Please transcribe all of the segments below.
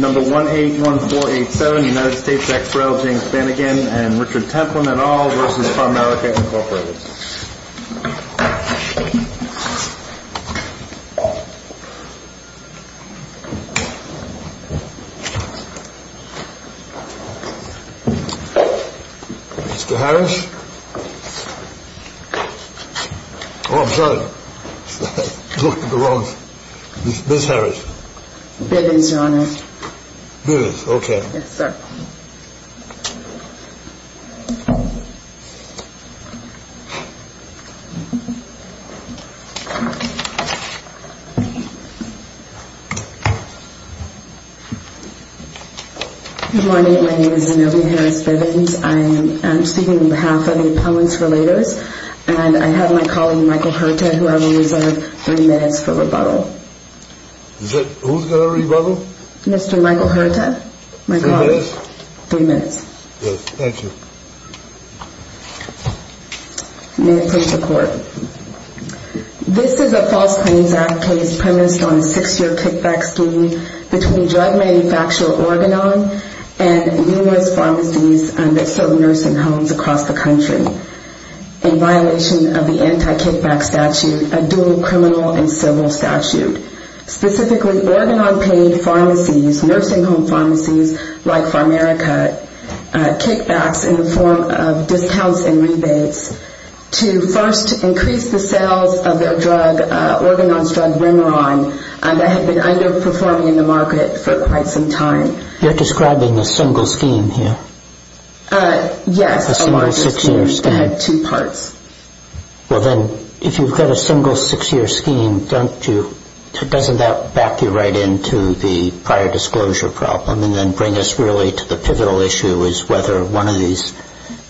Number 181487, United States ex rel. James Banigan & Richard Templin, et al. v. Pharmerica, Inc. Mr. Harris? Oh, I'm sorry. I looked at the wrong... Ms. Harris. Bivins, Your Honor. Bivins, okay. Yes, sir. Good morning. My name is Zenobia Harris Bivins. I am speaking on behalf of the Opponents Relators. And I have my colleague, Michael Hurta, who I will reserve three minutes for rebuttal. Who's going to rebuttal? Mr. Michael Hurta, my colleague. Three minutes? Three minutes. Yes, thank you. May it please the Court. This is a False Claims Act case premised on a six-year kickback scheme between drug manufacturer Organon and numerous pharmacies under certain nursing homes across the country in violation of the anti-kickback statute, a dual criminal and civil statute. Specifically, Organon paid pharmacies, nursing home pharmacies like Pharmerica, kickbacks in the form of discounts and rebates to first increase the sales of their drug, Organon's drug Remeron, that had been underperforming in the market for quite some time. You're describing a single scheme here? Yes. A single six-year scheme. Two parts. Well, then, if you've got a single six-year scheme, doesn't that back you right into the prior disclosure problem and then bring us really to the pivotal issue is whether one of these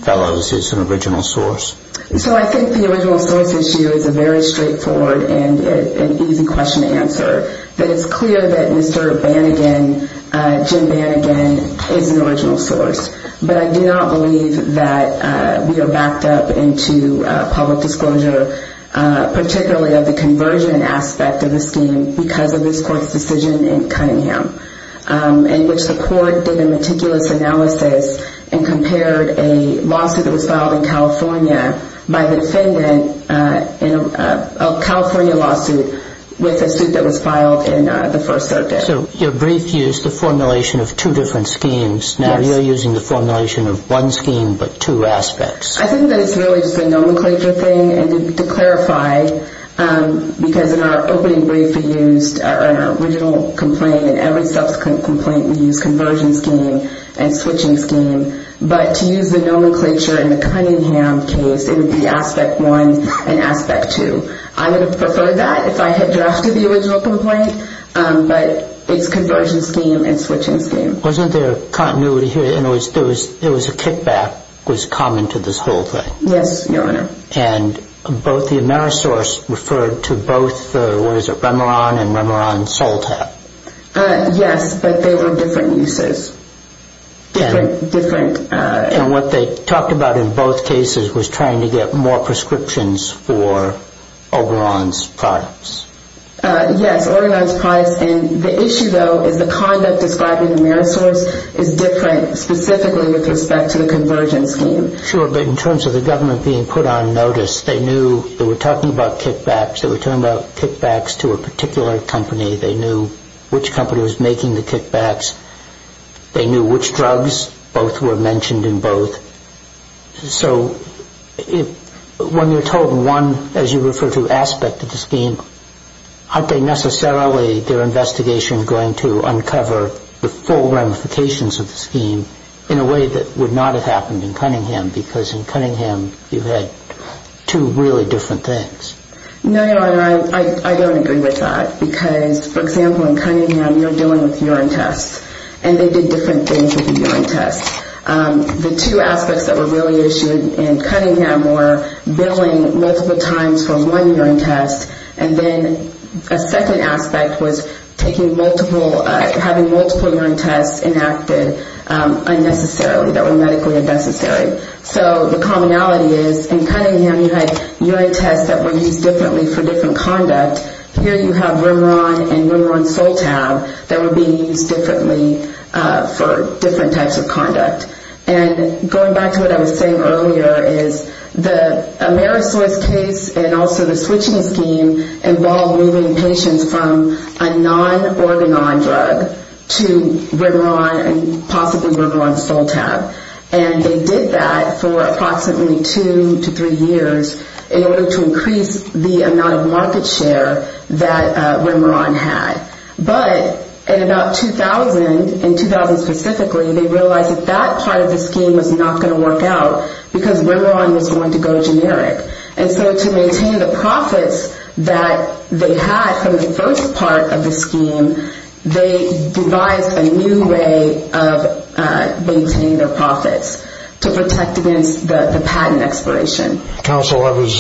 fellows is an original source? So I think the original source issue is a very straightforward and easy question to answer. That it's clear that Mr. Banigan, Jim Banigan, is an original source. But I do not believe that we are backed up into public disclosure, particularly of the conversion aspect of the scheme because of this Court's decision in Cunningham in which the Court did a meticulous analysis and compared a lawsuit that was filed in California by the defendant in a California lawsuit with a suit that was filed in the First Circuit. So your brief used the formulation of two different schemes. Now you're using the formulation of one scheme but two aspects. I think that it's really just a nomenclature thing. And to clarify, because in our opening brief we used an original complaint and every subsequent complaint we used conversion scheme and switching scheme. But to use the nomenclature in the Cunningham case, it would be aspect one and aspect two. I would have preferred that if I had drafted the original complaint, but it's conversion scheme and switching scheme. Wasn't there continuity here? There was a kickback that was common to this whole thing. Yes, Your Honor. And both the Amerisource referred to both the, what is it, Remeron and Remeron-Soltap? Yes, but they were different uses. And what they talked about in both cases was trying to get more prescriptions for Oberon's products. Yes, Oberon's products. And the issue, though, is the conduct described in Amerisource is different specifically with respect to the conversion scheme. Sure, but in terms of the government being put on notice, they knew they were talking about kickbacks. They were talking about kickbacks to a particular company. They knew which company was making the kickbacks. They knew which drugs. Both were mentioned in both. So when you're told one, as you refer to, aspect of the scheme, aren't they necessarily, their investigation, going to uncover the full ramifications of the scheme in a way that would not have happened in Cunningham? Because in Cunningham, you've had two really different things. No, Your Honor, I don't agree with that. Because, for example, in Cunningham, you're dealing with urine tests, and they did different things with the urine tests. The two aspects that were really issued in Cunningham were billing multiple times for one urine test, and then a second aspect was taking multiple, having multiple urine tests enacted unnecessarily, that were medically unnecessary. So the commonality is, in Cunningham, you had urine tests that were used differently for different conduct. Here you have Rimeron and Rimeron-Soltab that were being used differently for different types of conduct. And going back to what I was saying earlier is the Amerisource case and also the switching scheme involved moving patients from a non-organon drug to Rimeron and possibly Rimeron-Soltab. And they did that for approximately two to three years in order to increase the amount of market share that Rimeron had. But in about 2000, in 2000 specifically, they realized that that part of the scheme was not going to work out because Rimeron was going to go generic. And so to maintain the profits that they had from the first part of the scheme, they devised a new way of maintaining their profits to protect against the patent expiration. Counsel, I was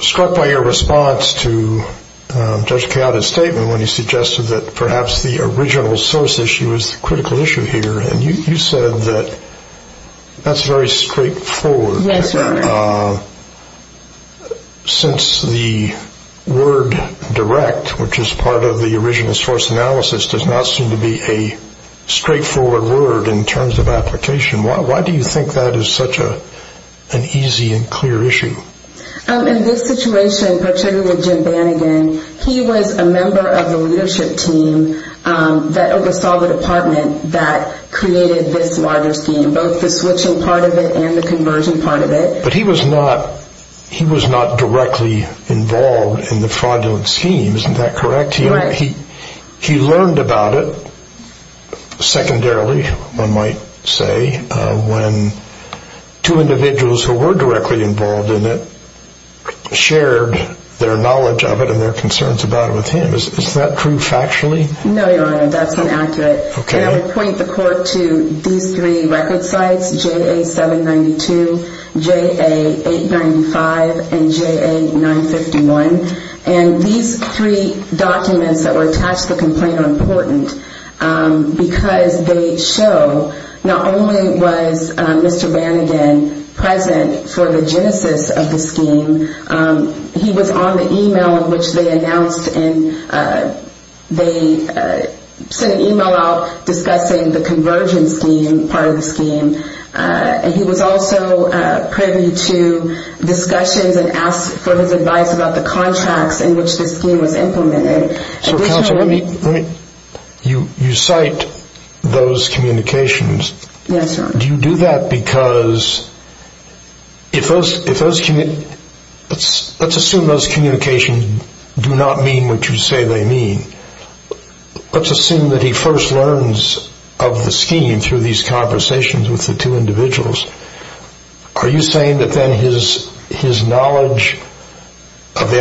struck by your response to Judge Keada's statement when he suggested that perhaps the original source issue is the critical issue here. And you said that that's very straightforward. Yes, Your Honor. Since the word direct, which is part of the original source analysis, does not seem to be a straightforward word in terms of application, why do you think that is such an easy and clear issue? In this situation, particularly with Jim Banigan, he was a member of the leadership team that oversaw the department that created this larger scheme, both the switching part of it and the conversion part of it. But he was not directly involved in the fraudulent scheme. Isn't that correct? Right. He learned about it secondarily, one might say, when two individuals who were directly involved in it shared their knowledge of it and their concerns about it with him. Is that true factually? No, Your Honor, that's inaccurate. I'll point the court to these three record sites, JA-792, JA-895, and JA-951. And these three documents that were attached to the complaint are important because they show not only was Mr. Banigan present for the genesis of the scheme, he was on the email in which they announced, they sent an email out discussing the conversion scheme, part of the scheme, and he was also privy to discussions and asked for his advice about the contracts in which the scheme was implemented. So counsel, you cite those communications. Yes, Your Honor. Do you do that because if those communications, let's assume those communications do not mean what you say they mean. Let's assume that he first learns of the scheme through these conversations with the two individuals. Are you saying that then his knowledge of the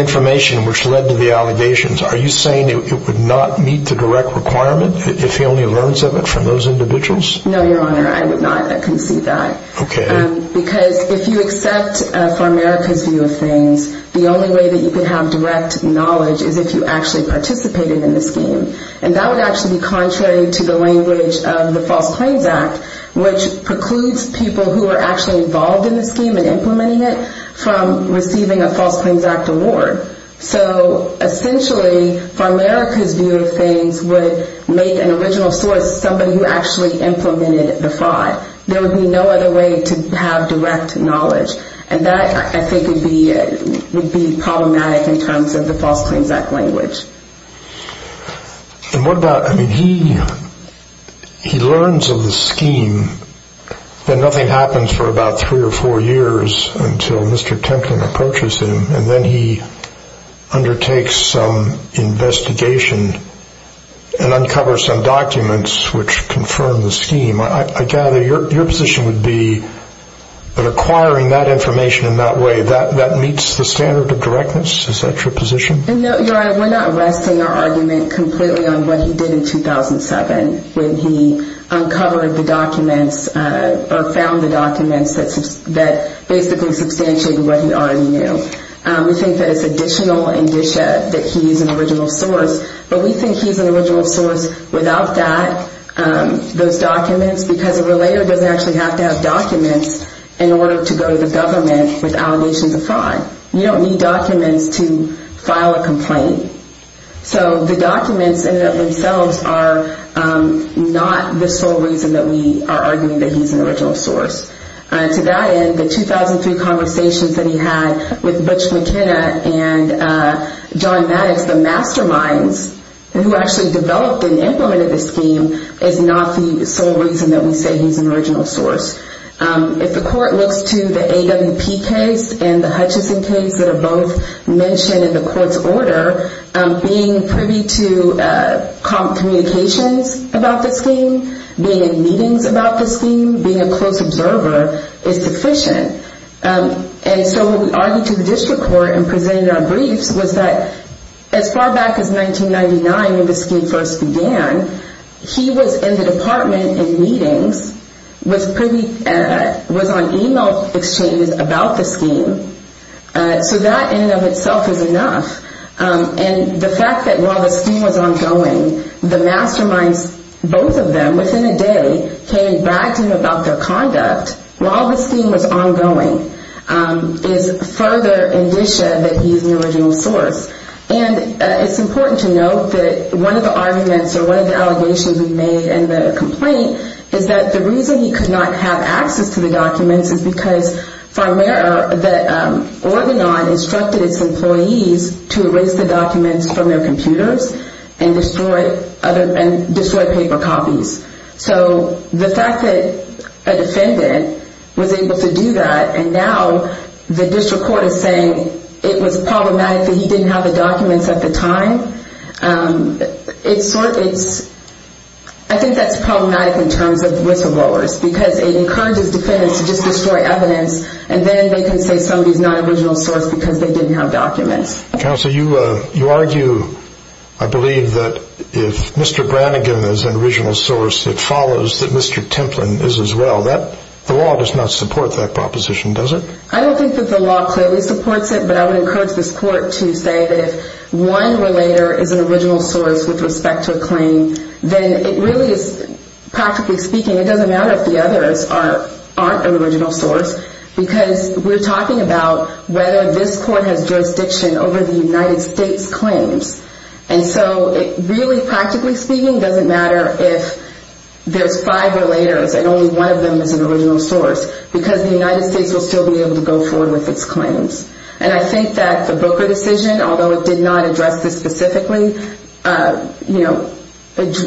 information which led to the allegations, are you saying it would not meet the direct requirement if he only learns of it from those individuals? No, Your Honor, I would not concede that. Okay. Because if you accept for America's view of things, the only way that you can have direct knowledge is if you actually participated in the scheme. And that would actually be contrary to the language of the False Claims Act, which precludes people who are actually involved in the scheme and implementing it from receiving a False Claims Act award. So essentially, for America's view of things, would make an original source somebody who actually implemented the fraud. There would be no other way to have direct knowledge. And that, I think, would be problematic in terms of the False Claims Act language. And what about, I mean, he learns of the scheme, then nothing happens for about three or four years until Mr. Templin approaches him, and then he undertakes some investigation and uncovers some documents which confirm the scheme. I gather your position would be that acquiring that information in that way, that meets the standard of directness? Is that your position? No, Your Honor, we're not resting our argument completely on what he did in 2007 when he uncovered the documents or found the documents that basically substantiated what he already knew. We think that it's additional indicia that he's an original source. But we think he's an original source without those documents because a relayer doesn't actually have to have documents in order to go to the government with allegations of fraud. So the documents in and of themselves are not the sole reason that we are arguing that he's an original source. To that end, the 2003 conversations that he had with Butch McKenna and John Maddox, the masterminds who actually developed and implemented the scheme, is not the sole reason that we say he's an original source. If the court looks to the AWP case and the Hutchison case that are both mentioned in the court's order, being privy to communications about the scheme, being in meetings about the scheme, being a close observer is sufficient. And so when we argued to the district court and presented our briefs was that as far back as 1999 when the scheme first began, he was in the department in meetings, was on email exchanges about the scheme. So that in and of itself is enough. And the fact that while the scheme was ongoing, the masterminds, both of them, within a day came back to him about their conduct while the scheme was ongoing is further indicia that he's an original source. And it's important to note that one of the arguments or one of the allegations we made in the complaint is that the reason he could not have access to the documents is because, for a matter of, that Organon instructed its employees to erase the documents from their computers and destroy paper copies. So the fact that a defendant was able to do that and now the district court is saying it was problematic that he didn't have the documents at the time, I think that's problematic in terms of whistleblowers because it encourages defendants to just destroy evidence and then they can say somebody's not an original source because they didn't have documents. Counsel, you argue, I believe, that if Mr. Brannigan is an original source, it follows that Mr. Templin is as well. The law does not support that proposition, does it? I don't think that the law clearly supports it, but I would encourage this court to say that if one relator is an original source with respect to a claim, then it really is, practically speaking, it doesn't matter if the others aren't an original source because we're talking about whether this court has jurisdiction over the United States claims. And so it really, practically speaking, doesn't matter if there's five relators and only one of them is an original source because the United States will still be able to go forward with its claims. And I think that the Booker decision, although it did not address this specifically,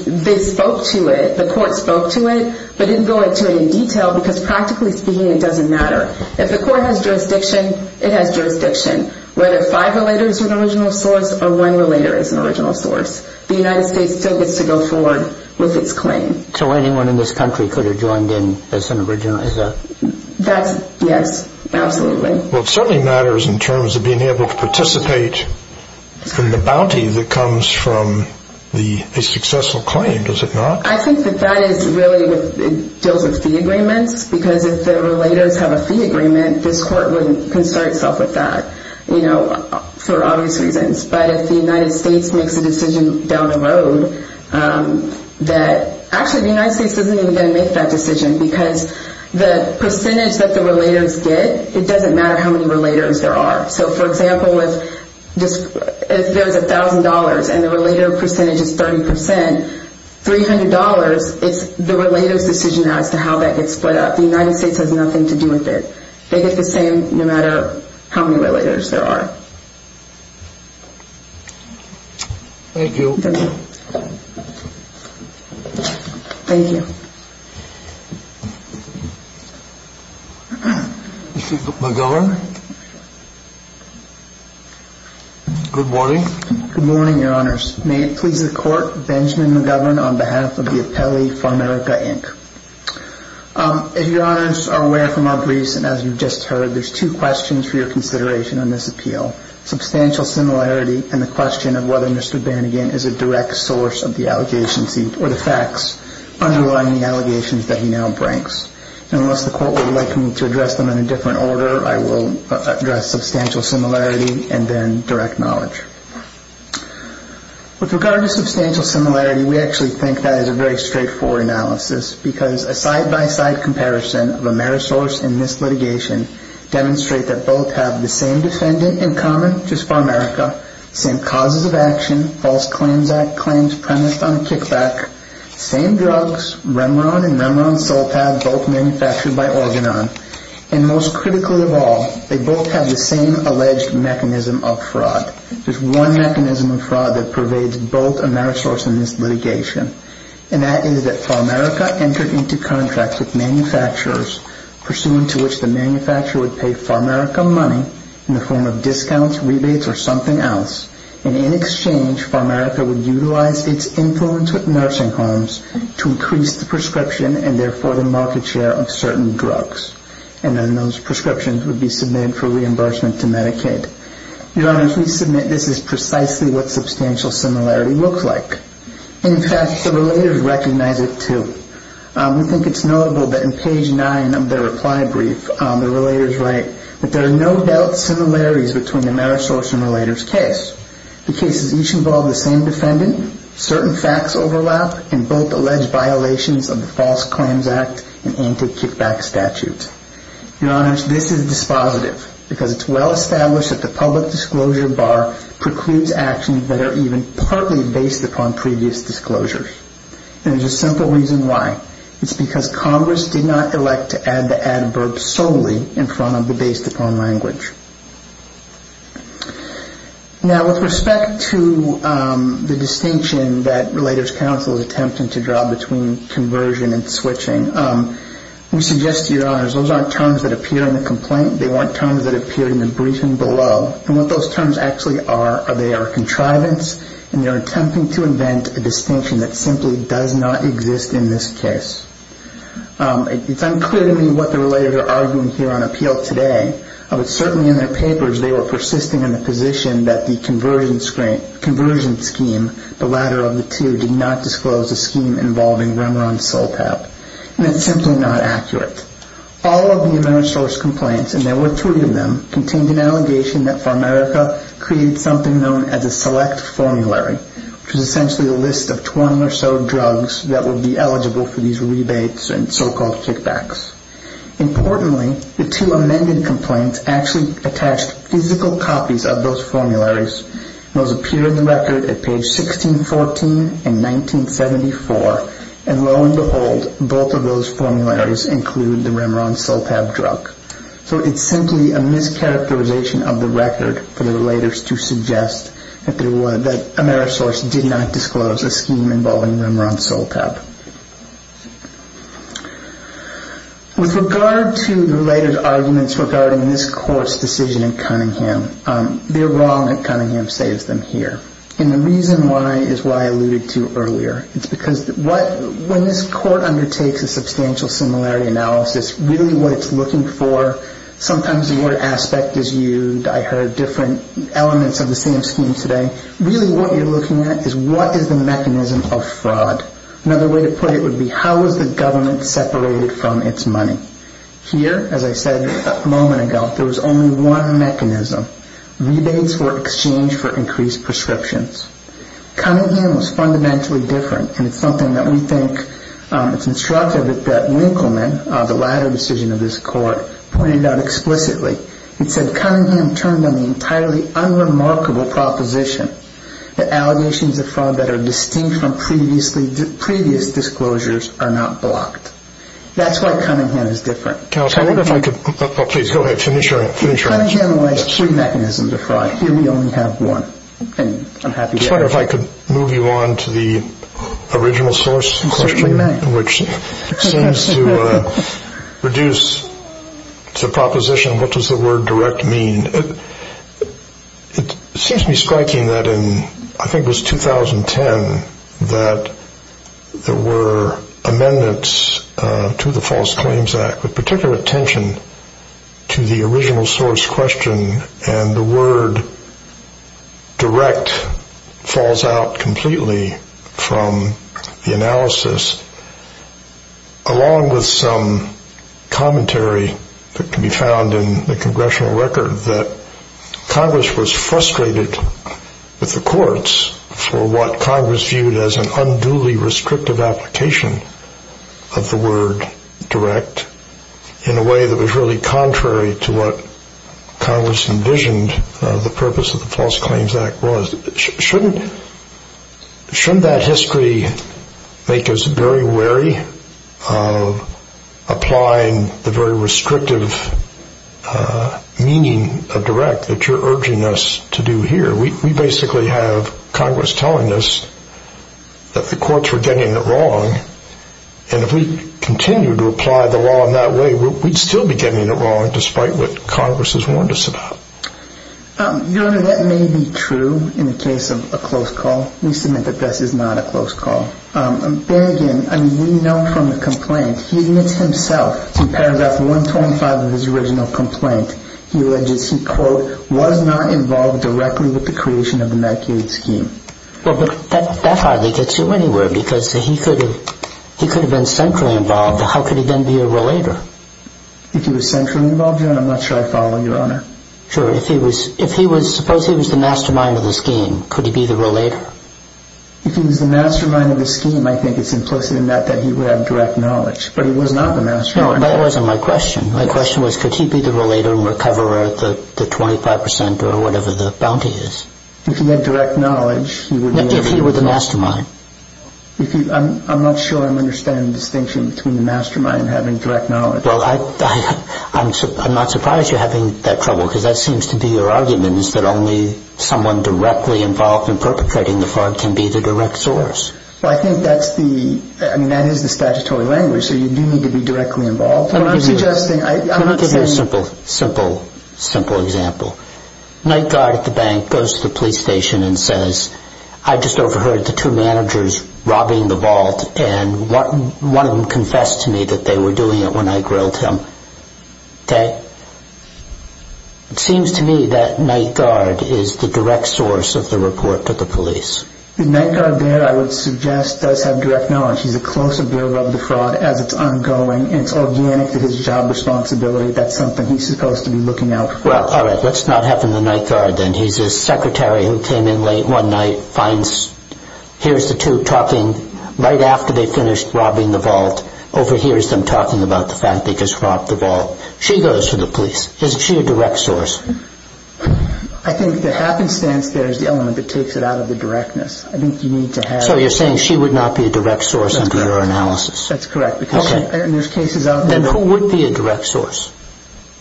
they spoke to it, the court spoke to it, but didn't go into it in detail because, practically speaking, it doesn't matter. If the court has jurisdiction, it has jurisdiction. Whether five relators are an original source or one relator is an original source, the United States still gets to go forward with its claim. So anyone in this country could have joined in as an original? That's, yes, absolutely. Well, it certainly matters in terms of being able to participate in the bounty that comes from a successful claim, does it not? I think that that is really, it deals with fee agreements because if the relators have a fee agreement, this court can start itself with that, you know, for obvious reasons. But if the United States makes a decision down the road that, actually the United States isn't even going to make that decision because the percentage that the relators get, it doesn't matter how many relators there are. So, for example, if there's $1,000 and the relator percentage is 30%, $300, it's the relator's decision as to how that gets split up. The United States has nothing to do with it. They get the same no matter how many relators there are. Thank you. Thank you. Mr. McGovern? Good morning. Good morning, Your Honors. May it please the Court, Benjamin McGovern on behalf of the Appellee for America, Inc. If Your Honors are aware from our briefs and as you've just heard, there's two questions for your consideration on this appeal. Substantial similarity and the question of whether Mr. Bannigan is a direct source of the allegations, or the facts underlying the allegations that he now brings. And unless the Court would like me to address them in a different order, I will address substantial similarity and then direct knowledge. With regard to substantial similarity, we actually think that is a very straightforward analysis because a side-by-side comparison of Amerisource and this litigation demonstrate that both have the same defendant in common, just for America, same causes of action, false claims act claims premised on kickback, same drugs, Remeron and Remeron-Soltav, both manufactured by Organon. And most critically of all, they both have the same alleged mechanism of fraud. There's one mechanism of fraud that pervades both Amerisource and this litigation. And that is that Pharmaerica entered into contracts with manufacturers, pursuant to which the manufacturer would pay Pharmaerica money in the form of discounts, rebates or something else. And in exchange, Pharmaerica would utilize its influence with nursing homes to increase the prescription and therefore the market share of certain drugs. And then those prescriptions would be submitted for reimbursement to Medicaid. Your Honors, we submit this is precisely what substantial similarity looks like. In fact, the relators recognize it too. We think it's notable that in page 9 of their reply brief, the relators write that there are no doubt similarities between Amerisource and the relator's case. The cases each involve the same defendant, certain facts overlap, and both allege violations of the false claims act and anti-kickback statute. Your Honors, this is dispositive because it's well-established that the public disclosure bar precludes actions that are even partly based upon previous disclosures. And there's a simple reason why. It's because Congress did not elect to add the adverb solely in front of the based-upon language. Now, with respect to the distinction that Relators Counsel is attempting to draw between conversion and switching, we suggest to your Honors, those aren't terms that appear in the complaint. They weren't terms that appeared in the briefing below. And what those terms actually are, they are contrivance, and they're attempting to invent a distinction that simply does not exist in this case. It's unclear to me what the relators are arguing here on appeal today. But certainly in their papers, they were persisting in the position that the conversion scheme, the latter of the two, did not disclose a scheme involving Remeron Soltap, and it's simply not accurate. All of the Amerisource complaints, and there were three of them, contained an allegation that Farmerica created something known as a select formulary, which is essentially a list of 20 or so drugs that would be eligible for these rebates and so-called kickbacks. Importantly, the two amended complaints actually attached physical copies of those formularies. Those appear in the record at page 1614 and 1974, and lo and behold, both of those formularies include the Remeron Soltap drug. So it's simply a mischaracterization of the record for the relators to suggest that Amerisource did not disclose a scheme involving Remeron Soltap. With regard to the related arguments regarding this court's decision in Cunningham, they're wrong that Cunningham saves them here. And the reason why is why I alluded to earlier. It's because when this court undertakes a substantial similarity analysis, really what it's looking for, sometimes the word aspect is used. I heard different elements of the same scheme today. Really what you're looking at is what is the mechanism of fraud. Another way to put it would be how is the government separated from its money. Here, as I said a moment ago, there was only one mechanism. Rebates were exchanged for increased prescriptions. Cunningham was fundamentally different, and it's something that we think, it's instructive that Winkleman, the latter decision of this court, pointed out explicitly. It said Cunningham turned on the entirely unremarkable proposition that allegations of fraud that are distinct from previous disclosures are not blocked. That's why Cunningham is different. Counsel, I wonder if I could, please go ahead, finish your answer. Cunningham relies on three mechanisms of fraud. Here we only have one, and I'm happy to answer. I just wonder if I could move you on to the original source question. Which seems to reduce the proposition of what does the word direct mean. It seems to me striking that in, I think it was 2010, that there were amendments to the False Claims Act with particular attention to the original source question, and the word direct falls out completely from the analysis, along with some commentary that can be found in the congressional record that Congress was frustrated with the courts for what Congress viewed as an unduly restrictive application of the word direct in a way that was really contrary to what Congress envisioned the purpose of the False Claims Act was. Shouldn't that history make us very wary of applying the very restrictive meaning of direct that you're urging us to do here? We basically have Congress telling us that the courts were getting it wrong, and if we continue to apply the law in that way, we'd still be getting it wrong despite what Congress has warned us about. Your Honor, that may be true in the case of a close call. We submit that this is not a close call. There again, we know from the complaint, he admits himself in paragraph 125 of his original complaint, he alleges he, quote, was not involved directly with the creation of the Medicaid scheme. Well, but that hardly gets you anywhere because he could have been centrally involved. How could he then be a relator? If he was centrally involved, Your Honor, I'm not sure I'd follow, Your Honor. Sure. If he was, suppose he was the mastermind of the scheme, could he be the relator? If he was the mastermind of the scheme, I think it's implicit in that that he would have direct knowledge, but he was not the mastermind. No, that wasn't my question. My question was, could he be the relator and recoverer at the 25 percent or whatever the bounty is? If he had direct knowledge, he would be the mastermind. If he were the mastermind. I'm not sure I'm understanding the distinction between the mastermind having direct knowledge. Well, I'm not surprised you're having that trouble because that seems to be your argument, is that only someone directly involved in perpetrating the fraud can be the direct source. Well, I think that's the, I mean, that is the statutory language, so you do need to be directly involved. Let me give you a simple example. Night Guard at the bank goes to the police station and says, I just overheard the two managers robbing the vault, and one of them confessed to me that they were doing it when I grilled him. Okay? It seems to me that Night Guard is the direct source of the report to the police. The Night Guard there, I would suggest, does have direct knowledge. He's a close observer of the fraud as it's ongoing, and it's organic to his job responsibility. That's something he's supposed to be looking out for. Well, all right, let's not have him the Night Guard then. He's a secretary who came in late one night, hears the two talking right after they finished robbing the vault, overhears them talking about the fact they just robbed the vault. She goes to the police. Is she a direct source? I think the happenstance there is the element that takes it out of the directness. I think you need to have... So you're saying she would not be a direct source under your analysis? That's correct. Okay. And there's cases out there... Then who would be a direct source?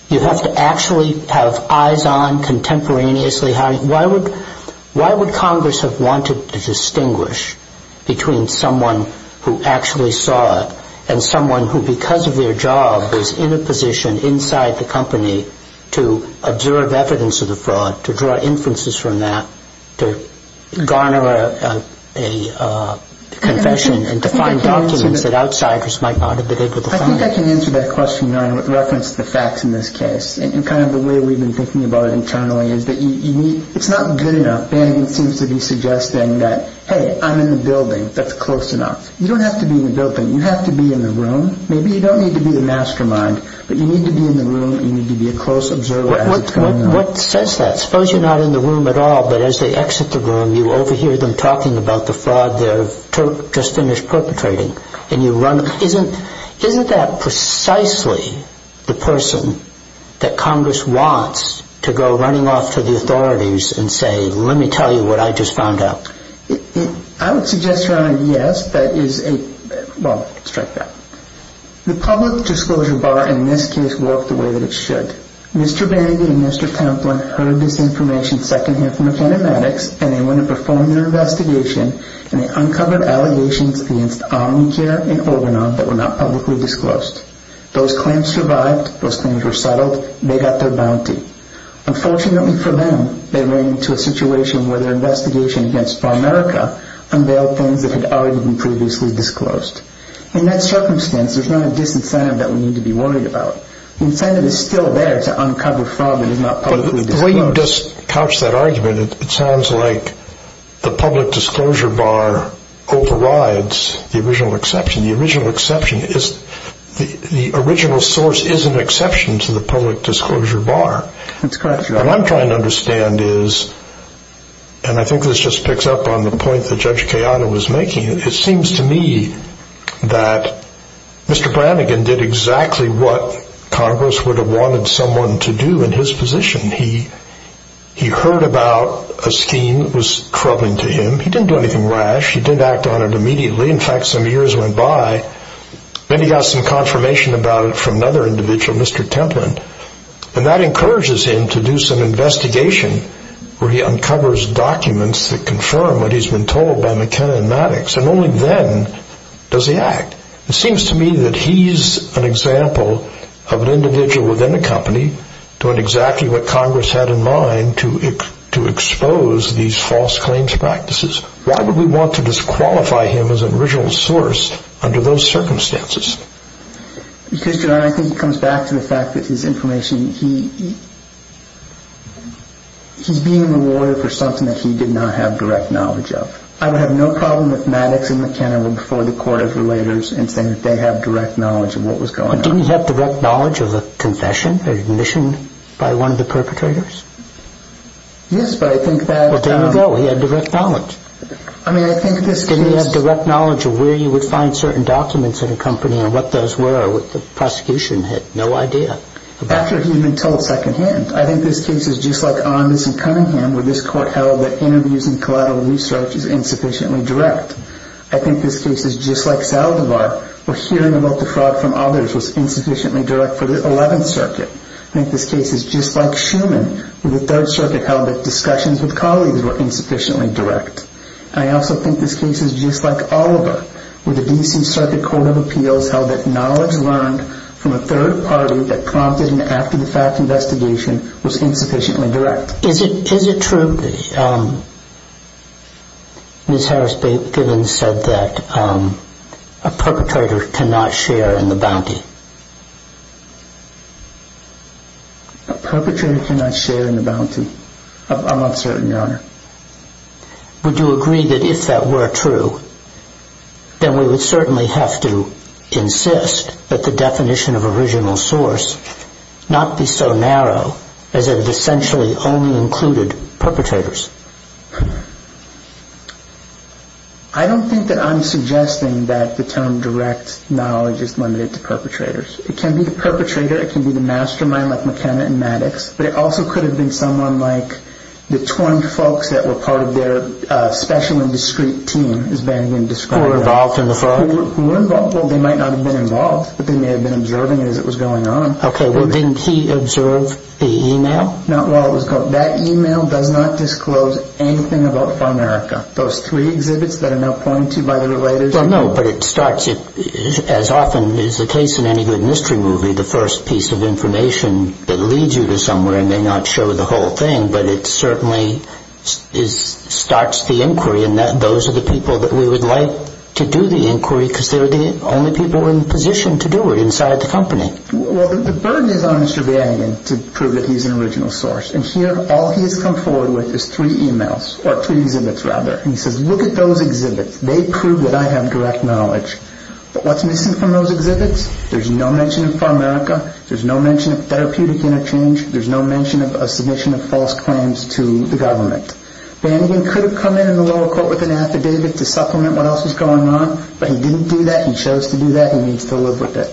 You have to actually have eyes on contemporaneously. Why would Congress have wanted to distinguish between someone who actually saw it and someone who, because of their job, was in a position inside the company to observe evidence of the fraud, to draw inferences from that, to garner a confession and to find documents that outsiders might not have been able to find? I think I can answer that question with reference to the facts in this case and kind of the way we've been thinking about it internally. It's not good enough. Banning seems to be suggesting that, hey, I'm in the building. That's close enough. You don't have to be in the building. You have to be in the room. Maybe you don't need to be the mastermind, but you need to be in the room. You need to be a close observer. What says that? Suppose you're not in the room at all, but as they exit the room, you overhear them talking about the fraud they've just finished perpetrating. Isn't that precisely the person that Congress wants to go running off to the authorities and say, let me tell you what I just found out? I would suggest, Your Honor, yes. That is a—well, strike that. The public disclosure bar in this case worked the way that it should. Mr. Bandy and Mr. Templin heard this information secondhand from a can of addicts, and they went and performed their investigation, and they uncovered allegations against Omnicare and Organon that were not publicly disclosed. Those claims survived. Those claims were settled. They got their bounty. Unfortunately for them, they ran into a situation where their investigation against Farmerica unveiled things that had already been previously disclosed. In that circumstance, there's not a disincentive that we need to be worried about. The incentive is still there to uncover fraud that is not publicly disclosed. The way you just couched that argument, it sounds like the public disclosure bar overrides the original exception. The original exception is—the original source is an exception to the public disclosure bar. That's correct, Your Honor. What I'm trying to understand is, and I think this just picks up on the point that Judge Kayano was making, it seems to me that Mr. Brannigan did exactly what Congress would have wanted someone to do in his position. He heard about a scheme that was troubling to him. He didn't do anything rash. He didn't act on it immediately. In fact, some years went by. Then he got some confirmation about it from another individual, Mr. Templin, and that encourages him to do some investigation where he uncovers documents that confirm what he's been told by McKenna and Maddox, and only then does he act. It seems to me that he's an example of an individual within a company doing exactly what Congress had in mind to expose these false claims practices. Why would we want to disqualify him as an original source under those circumstances? Because, Your Honor, I think it comes back to the fact that his information—he's being rewarded for something that he did not have direct knowledge of. I would have no problem with Maddox and McKenna before the Court of Relators in saying that they have direct knowledge of what was going on. Didn't he have direct knowledge of a confession or admission by one of the perpetrators? Yes, but I think that— Well, there you go. He had direct knowledge. I mean, I think this case— Didn't he have direct knowledge of where you would find certain documents in a company and what those were or what the prosecution had no idea about? After he had been told secondhand. I think this case is just like Amos and Cunningham, where this Court held that interviews and collateral research is insufficiently direct. I think this case is just like Saldivar, where hearing about the fraud from others was insufficiently direct for the 11th Circuit. I think this case is just like Shuman, where the 3rd Circuit held that discussions with colleagues were insufficiently direct. And I also think this case is just like Oliver, where the D.C. Circuit Court of Appeals held that knowledge learned from a third party that prompted an after-the-fact investigation was insufficiently direct. Is it true that Ms. Harris-Giddens said that a perpetrator cannot share in the bounty? A perpetrator cannot share in the bounty. I'm not certain, Your Honor. Would you agree that if that were true, then we would certainly have to insist that the definition of original source not be so narrow as if it essentially only included perpetrators? I don't think that I'm suggesting that the term direct knowledge is limited to perpetrators. It can be the perpetrator. It can be the mastermind like McKenna and Maddox. But it also could have been someone like the twinned folks that were part of their special and discrete team, as Bandyan described. Who were involved in the fraud? Who were involved. Well, they might not have been involved, but they may have been observing it as it was going on. Okay. Well, didn't he observe the email? Not while it was going on. That email does not disclose anything about Farmerica. Those three exhibits that are now pointed by the related people. Well, no, but it starts, as often is the case in any good mystery movie, the first piece of information that leads you to somewhere. It may not show the whole thing, but it certainly starts the inquiry, and those are the people that we would like to do the inquiry because they were the only people in position to do it inside the company. Well, the burden is on Mr. Bandyan to prove that he's an original source, and here all he has come forward with is three emails, or three exhibits rather, and he says, look at those exhibits. They prove that I have direct knowledge. But what's missing from those exhibits? There's no mention of Farmerica. There's no mention of therapeutic interchange. There's no mention of a submission of false claims to the government. Bandyan could have come in in the lower court with an affidavit to supplement what else was going on, but he didn't do that. He chose to do that. He needs to live with it.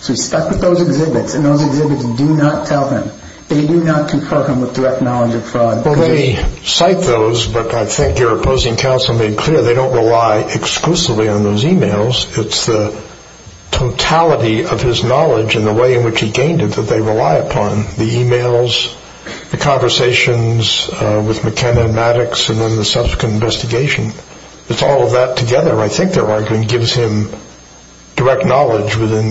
So he's stuck with those exhibits, and those exhibits do not tell him. They do not confront him with direct knowledge of fraud. Well, they cite those, but I think your opposing counsel made clear they don't rely exclusively on those emails. It's the totality of his knowledge and the way in which he gained it that they rely upon, the emails, the conversations with McKenna and Maddox, and then the subsequent investigation. It's all of that together, I think they're arguing, that gives him direct knowledge within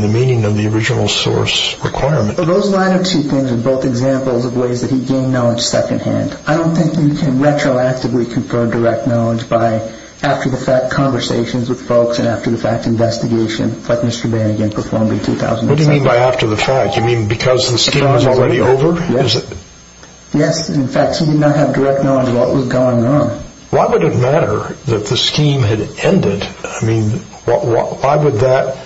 the meaning of the original source requirement. Those line of two things are both examples of ways that he gained knowledge secondhand. I don't think you can retroactively confer direct knowledge by after-the-fact conversations with folks and after-the-fact investigation like Mr. Bandyan performed in 2007. What do you mean by after-the-fact? You mean because the scheme was already over? Yes. In fact, he did not have direct knowledge of what was going on. Why would it matter that the scheme had ended? I mean, why would that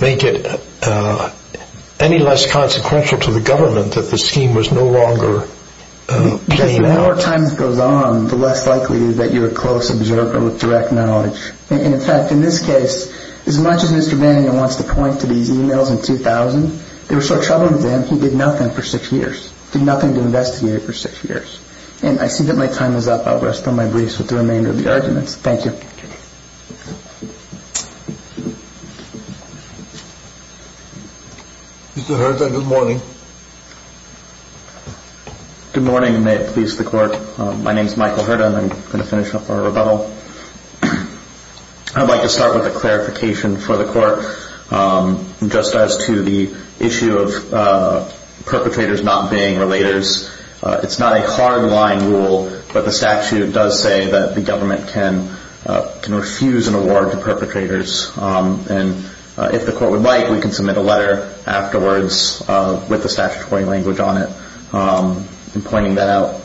make it any less consequential to the government that the scheme was no longer paying out? Because the more time that goes on, the less likely that you're a close observer with direct knowledge. In fact, in this case, as much as Mr. Bandyan wants to point to these emails in 2000, they were so troubling to him, he did nothing for six years, did nothing to investigate for six years. And I see that my time is up. I'll rest on my brace with the remainder of the arguments. Thank you. Mr. Hurta, good morning. Good morning, and may it please the Court. My name is Michael Hurta, and I'm going to finish up our rebuttal. I'd like to start with a clarification for the Court. Just as to the issue of perpetrators not being relators, it's not a hard-line rule, but the statute does say that the government can refuse an award to perpetrators. And if the Court would like, we can submit a letter afterwards with the statutory language on it in pointing that out.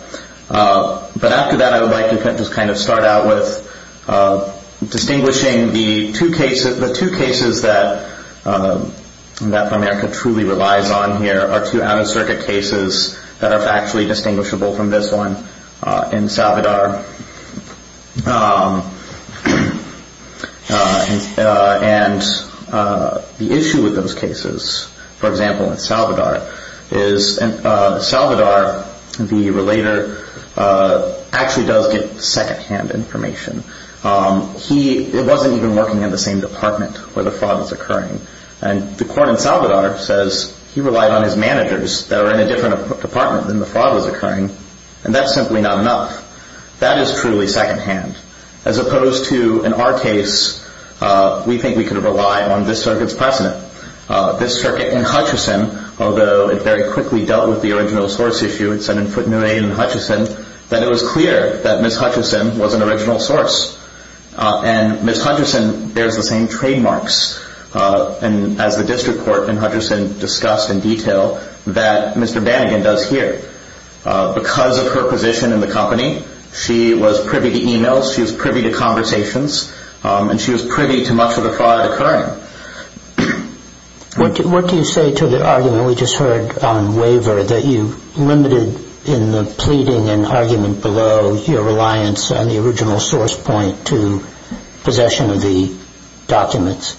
But after that, I would like to just kind of start out with distinguishing the two cases. The two cases that America truly relies on here are two out-of-circuit cases that are actually distinguishable from this one in Salvador. And the issue with those cases, for example, in Salvador, is Salvador, the relator, actually does get secondhand information. He wasn't even working in the same department where the fraud was occurring. And the Court in Salvador says he relied on his managers that are in a different department than the fraud was occurring, and that's simply not enough. That is truly secondhand. As opposed to, in our case, we think we could rely on this circuit's precedent. This circuit in Hutchison, although it very quickly dealt with the original source issue, it said in footnote 8 in Hutchison, that it was clear that Ms. Hutchison was an original source. And Ms. Hutchison bears the same trademarks as the district court in Hutchison discussed in detail that Mr. Banigan does here. Because of her position in the company, she was privy to e-mails. She was privy to conversations. And she was privy to much of the fraud occurring. What do you say to the argument we just heard on waiver that you limited in the pleading and argument below your reliance on the original source point to possession of the documents?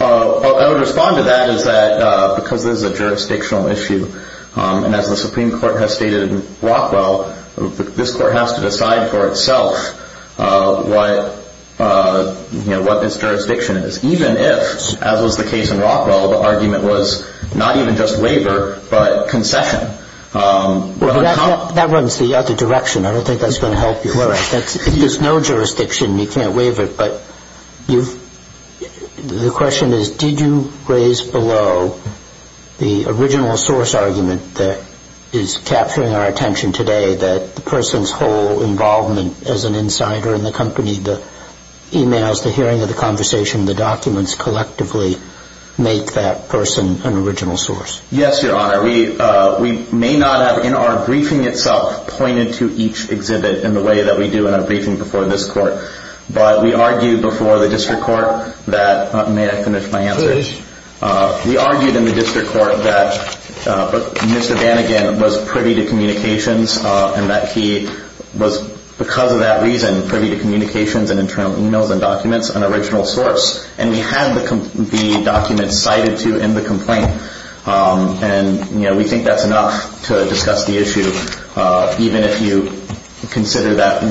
I would respond to that because this is a jurisdictional issue. And as the Supreme Court has stated in Rockwell, this Court has to decide for itself what its jurisdiction is. Even if, as was the case in Rockwell, the argument was not even just waiver but concession. That runs the other direction. I don't think that's going to help you. All right. If there's no jurisdiction, you can't waive it. But the question is, did you raise below the original source argument that is capturing our attention today that the person's whole involvement as an insider in the company, the e-mails, the hearing of the conversation, the documents collectively make that person an original source? Yes, Your Honor. We may not have in our briefing itself pointed to each exhibit in the way that we do in our briefing before this Court. But we argued before the district court that – may I finish my answer? Please. We argued in the district court that Mr. Banigan was privy to communications and that he was, because of that reason, privy to communications and internal e-mails and documents, an original source. And we had the documents cited to in the complaint. And we think that's enough to discuss the issue, even if you consider that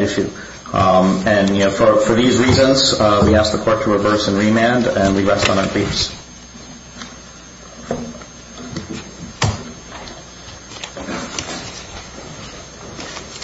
issue. And for these reasons, we ask the Court to reverse and remand, and we rest on our creeps.